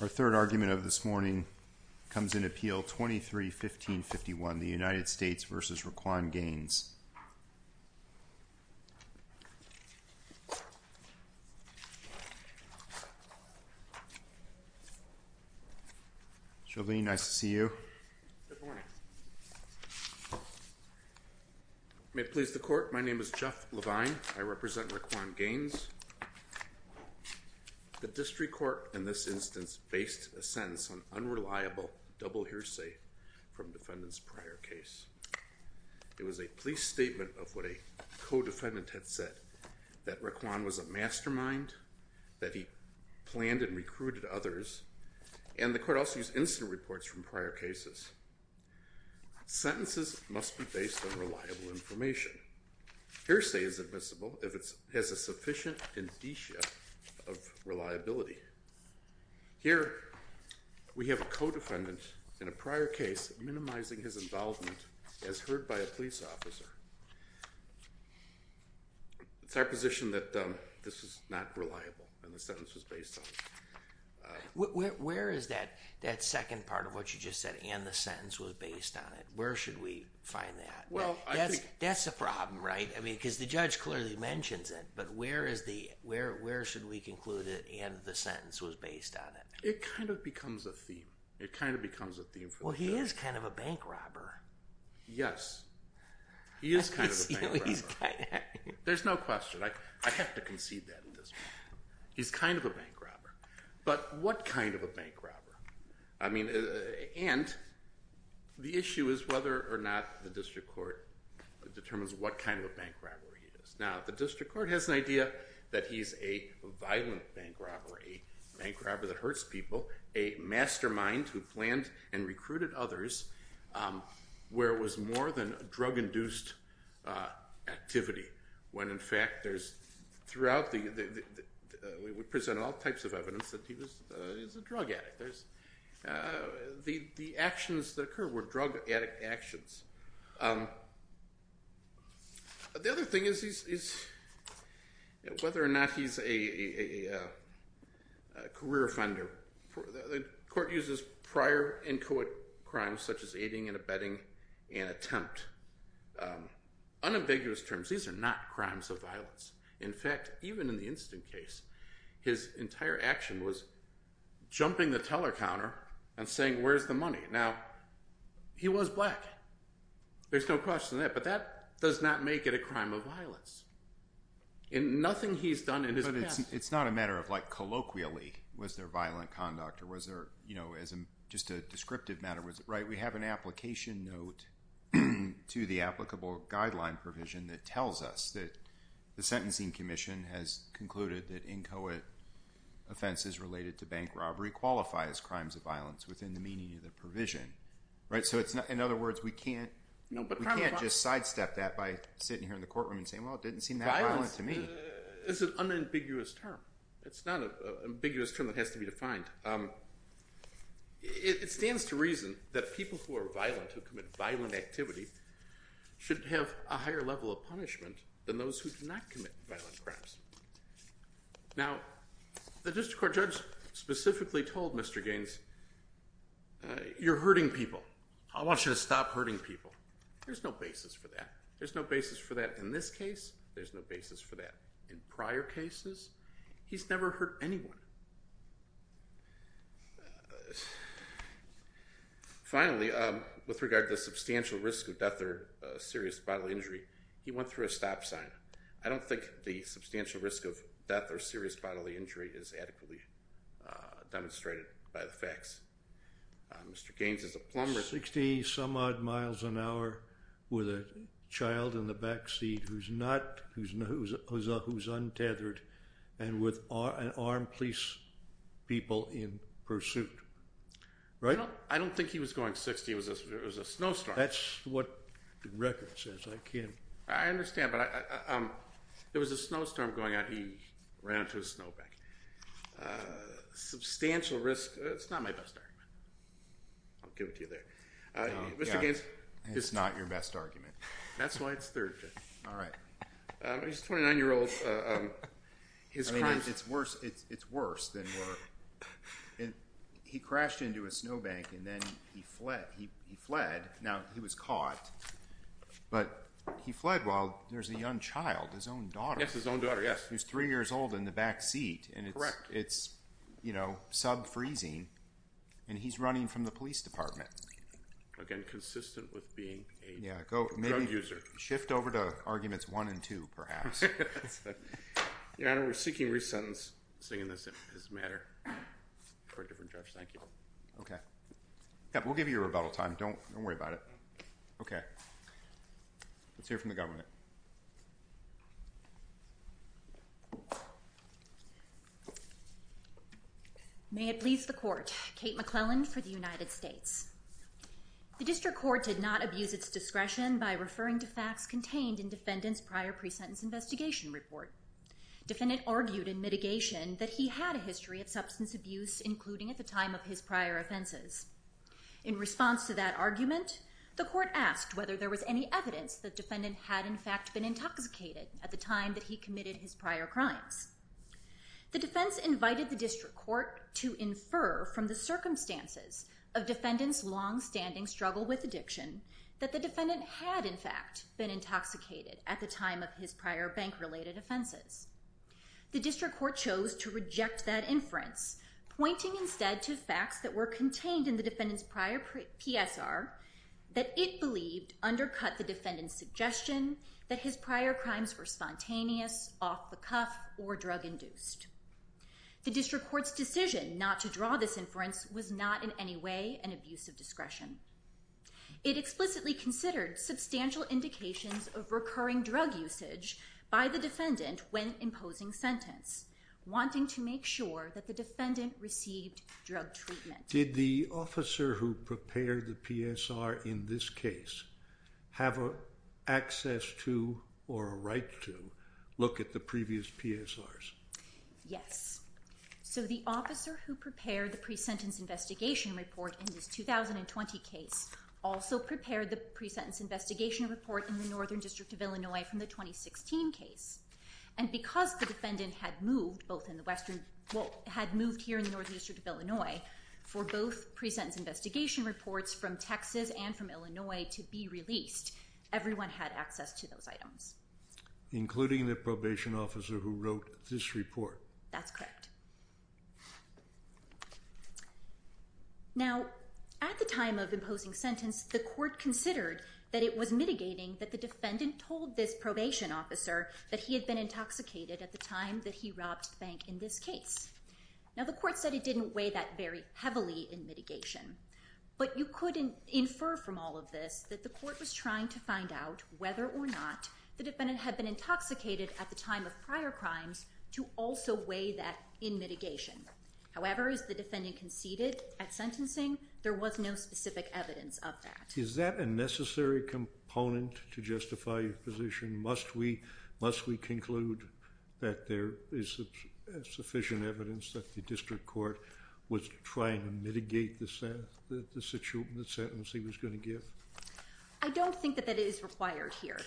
Our third argument of this morning comes in Appeal 23-1551, the United States v. Reiquon Gaines. Jolene, nice to see you. Good morning. May it please the court, my name is Jeff Levine, I represent Reiquon Gaines. The district court in this instance based a sentence on unreliable double hearsay from defendant's prior case. It was a police statement of what a co-defendant had said, that Reiquon was a mastermind, that he planned and recruited others, and the court also used incident reports from prior cases. Sentences must be based on reliable information. Hearsay is admissible if it has a sufficient indicia of reliability. Here, we have a co-defendant in a prior case minimizing his involvement as heard by a police officer. It's our position that this is not reliable, and the sentence was based on it. Where is that second part of what you just said, and the sentence was based on it? Where should we find that? Well, I think... That's a problem, right? I mean, because the judge clearly mentions it, but where is the... Where should we conclude it, and the sentence was based on it? It kind of becomes a theme. It kind of becomes a theme for the case. Well, he is kind of a bank robber. Yes. He is kind of a bank robber. There's no question. I have to concede that at this point. He's kind of a bank robber, but what kind of a bank robber? I mean, and the issue is whether or not the district court determines what kind of a bank robber he is. Now, the district court has an idea that he's a violent bank robber, a bank robber that hurts people, a mastermind who planned and recruited others, where it was more than drug-induced activity, when in fact there's throughout the... We present all types of evidence that he's a drug addict. The actions that occur were drug addict actions. The other thing is whether or not he's a career offender. The court uses prior and co-ed crimes such as aiding and abetting and attempt. Unambiguous terms. These are not crimes of violence. In fact, even in the instant case, his entire action was jumping the teller counter and saying where's the money? Now, he was black. There's no question of that, but that does not make it a crime of violence. Nothing he's done in his past... But it's not a matter of like colloquially was there violent conduct or was there just a descriptive matter. Was it right? We have an application note to the applicable guideline provision that tells us that the Sentencing Commission has concluded that in co-ed offenses related to bank robbery qualify as crimes of violence within the meaning of the provision. In other words, we can't just sidestep that by sitting here in the courtroom and saying, well, it didn't seem that violent to me. It's an unambiguous term. It's not an ambiguous term that has to be defined. It stands to reason that people who are violent, who commit violent activity, should have a higher level of punishment than those who do not commit violent crimes. Now, the district court judge specifically told Mr. Gaines, you're hurting people. I want you to stop hurting people. There's no basis for that. There's no basis for that in this case. There's no basis for that in prior cases. He's never hurt anyone. Finally, with regard to the substantial risk of death or serious bodily injury, he went through a stop sign. I don't think the substantial risk of death or serious bodily injury is adequately demonstrated by the facts. Mr. Gaines is a plumber. 60 some odd miles an hour with a child in the backseat who's untethered and with armed police people in pursuit, right? I don't think he was going 60. It was a snowstorm. That's what the record says. I can't. I understand. But there was a snowstorm going out and he ran into a snowbank. Substantial risk. It's not my best argument. I'll give it to you there. Mr. Gaines. It's not your best argument. That's why it's third. All right. He's a 29-year-old. His crimes. I mean, it's worse. It's worse than worse. He crashed into a snowbank and then he fled. Now, he was caught, but he fled while there's a young child, his own daughter. Yes, his own daughter. Yes. Who's three years old in the backseat. Correct. And it's, you know, sub-freezing and he's running from the police department. Again, consistent with being a drug user. Yeah. Shift over to arguments one and two, perhaps. Your Honor, we're seeking re-sentencing in this matter for a different judge. Thank you. Okay. Yeah. We'll give you a rebuttal time. Don't worry about it. Okay. Let's hear from the government. May it please the court, Kate McClellan for the United States. The district court did not abuse its discretion by referring to facts contained in defendant's prior pre-sentence investigation report. Defendant argued in mitigation that he had a history of substance abuse, including at the time of his prior offenses. In response to that argument, the court asked whether there was any evidence that defendant had in fact been intoxicated at the time that he committed his prior crimes. The defense invited the district court to infer from the circumstances of defendant's longstanding struggle with addiction that the defendant had in fact been intoxicated at the time of his prior bank-related offenses. The district court chose to reject that inference, pointing instead to facts that were contained in the defendant's prior PSR that it believed undercut the defendant's suggestion that his prior crimes were spontaneous, off-the-cuff, or drug-induced. The district court's decision not to draw this inference was not in any way an abuse of discretion. It explicitly considered substantial indications of recurring drug usage by the defendant when imposing sentence, wanting to make sure that the defendant received drug treatment. Did the officer who prepared the PSR in this case have access to or a right to look at the previous PSRs? Yes. So, the officer who prepared the pre-sentence investigation report in this 2020 case also prepared the pre-sentence investigation report in the Northern District of Illinois from the 2016 case. And because the defendant had moved here in the Northern District of Illinois for both pre-sentence investigation reports from Texas and from Illinois to be released, everyone had access to those items. Including the probation officer who wrote this report? That's correct. Now, at the time of imposing sentence, the court considered that it was mitigating that the defendant told this probation officer that he had been intoxicated at the time that he robbed the bank in this case. Now, the court said it didn't weigh that very heavily in mitigation. But you could infer from all of this that the court was trying to find out whether or not the defendant had been intoxicated at the time of prior crimes to also weigh that in mitigation. However, as the defendant conceded at sentencing, there was no specific evidence of that. Is that a necessary component to justify your position? Must we conclude that there is sufficient evidence that the district court was trying to mitigate the sentence he was going to give? I don't think that that is required here.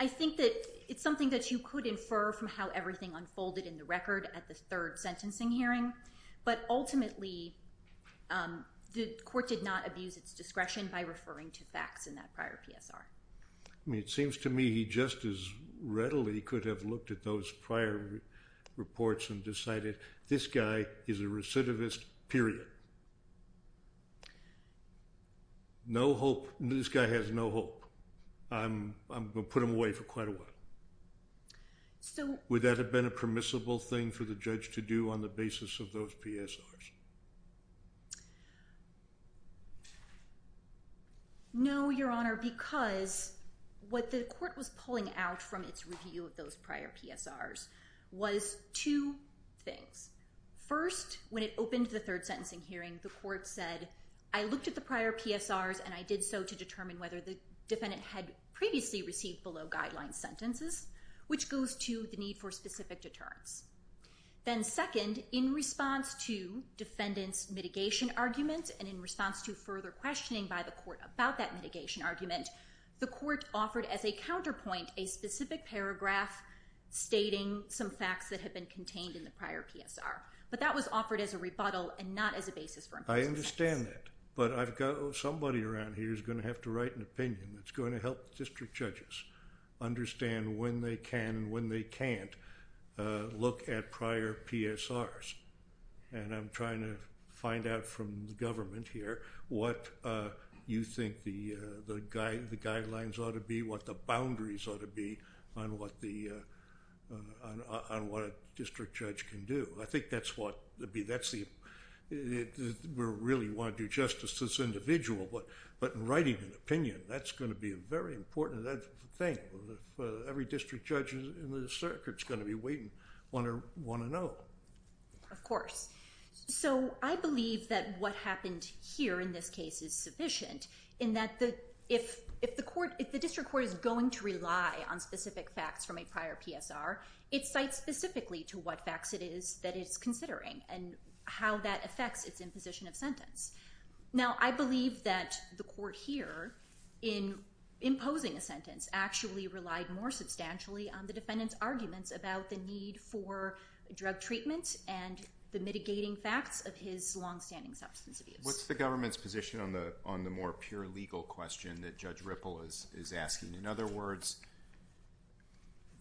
I think that it's something that you could infer from how everything unfolded in the record at the third sentencing hearing. But ultimately, the court did not abuse its discretion by referring to facts in that prior PSR. I mean, it seems to me he just as readily could have looked at those prior reports and decided this guy is a recidivist, period. No hope. This guy has no hope. I'm going to put him away for quite a while. Would that have been a permissible thing for the judge to do on the basis of those PSRs? No, Your Honor, because what the court was pulling out from its review of those prior PSRs was two things. First, when it opened the third sentencing hearing, the court said, I looked at the prior PSRs and I did so to determine whether the defendant had previously received below-guideline sentences, which goes to the need for specific deterrence. Then second, in response to defendant's mitigation argument and in response to further questioning by the court about that mitigation argument, the court offered as a counterpoint a specific paragraph stating some facts that had been contained in the prior PSR. But that was offered as a rebuttal and not as a basis for imposition. I understand that. But I've got somebody around here who's going to have to write an opinion that's going to help district judges understand when they can and when they can't look at prior PSRs. And I'm trying to find out from the government here what you think the guidelines ought to be, what the boundaries ought to be on what a district judge can do. I think that's what... we really want to do justice to this individual, but in writing an opinion, that's going to be a very important thing for every district judge in this circuit is going to be waiting, want to know. Of course. So, I believe that what happened here in this case is sufficient in that if the district court is going to rely on specific facts from a prior PSR, it cites specifically to what facts it is that it's considering and how that affects its imposition of sentence. Now, I believe that the court here, in imposing a sentence, actually relied more substantially on the defendant's arguments about the need for drug treatment and the mitigating facts of his longstanding substance abuse. What's the government's position on the more pure legal question that Judge Ripple is asking? In other words,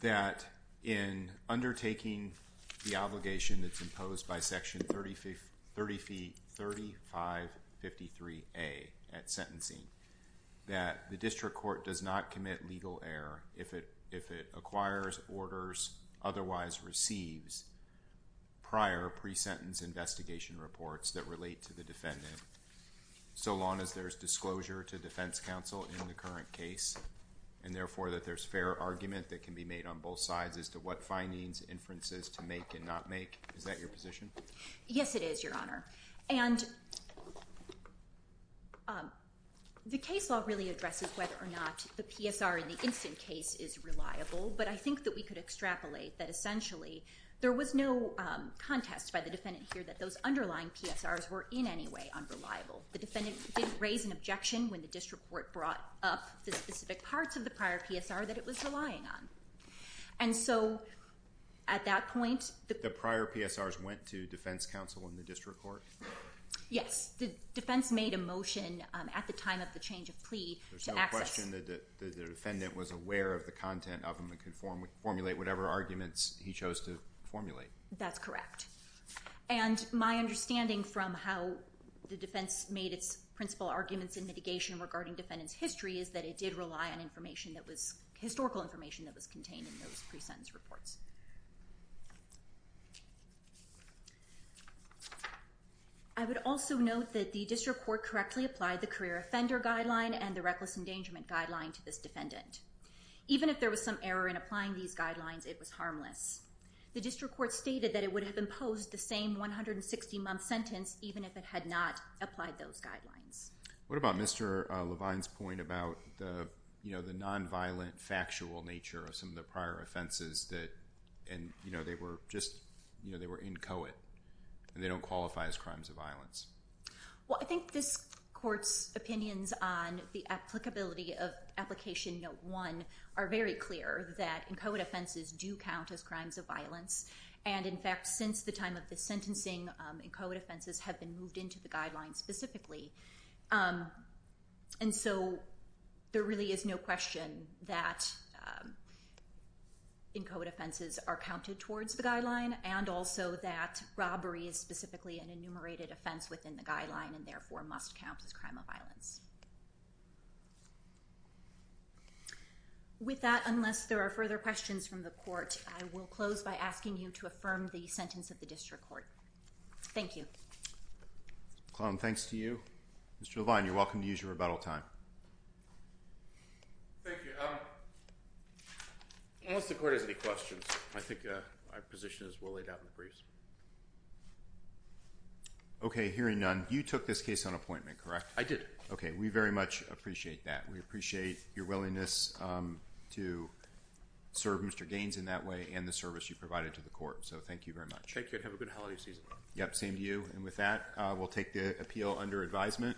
that in undertaking the obligation that's imposed by Section 3053A at sentencing, that the district court does not commit legal error if it acquires orders, otherwise receives prior pre-sentence investigation reports that relate to the defendant, so long as there's closure to defense counsel in the current case, and therefore that there's fair argument that can be made on both sides as to what findings, inferences to make and not make. Is that your position? Yes, it is, Your Honor. And the case law really addresses whether or not the PSR in the instant case is reliable, but I think that we could extrapolate that essentially there was no contest by the defendant here that those underlying PSRs were in any way unreliable. The defendant didn't raise an objection when the district court brought up the specific parts of the prior PSR that it was relying on. And so at that point... The prior PSRs went to defense counsel in the district court? Yes. The defense made a motion at the time of the change of plea to access... There's no question that the defendant was aware of the content of them and could formulate whatever arguments he chose to formulate. That's correct. And my understanding from how the defense made its principal arguments in mitigation regarding defendant's history is that it did rely on historical information that was contained in those pre-sentence reports. I would also note that the district court correctly applied the career offender guideline and the reckless endangerment guideline to this defendant. Even if there was some error in applying these guidelines, it was harmless. The district court stated that it would have imposed the same 160-month sentence even if it had not applied those guidelines. What about Mr. Levine's point about the non-violent factual nature of some of the prior offenses that... And, you know, they were just, you know, they were inchoate and they don't qualify as crimes of violence. Well, I think this court's opinions on the applicability of Application Note 1 are very clear that inchoate offenses do count as crimes of violence. And in fact, since the time of the sentencing, inchoate offenses have been moved into the guideline specifically. And so there really is no question that inchoate offenses are counted towards the guideline and also that robbery is specifically an enumerated offense within the guideline and therefore must count as crime of violence. With that, unless there are further questions from the court, I will close by asking you to affirm the sentence of the district court. Thank you. Ms. McClellan, thanks to you. Mr. Levine, you're welcome to use your rebuttal time. Thank you. Unless the court has any questions, I think my position is well laid out in the briefs. Okay. Hearing none, you took this case on appointment, correct? I did. We very much appreciate that. We appreciate your willingness to serve Mr. Gaines in that way and the service you provided to the court. So thank you very much. Thank you. And have a good holiday season. Yep. Same to you. And with that, we'll take the appeal under advisement.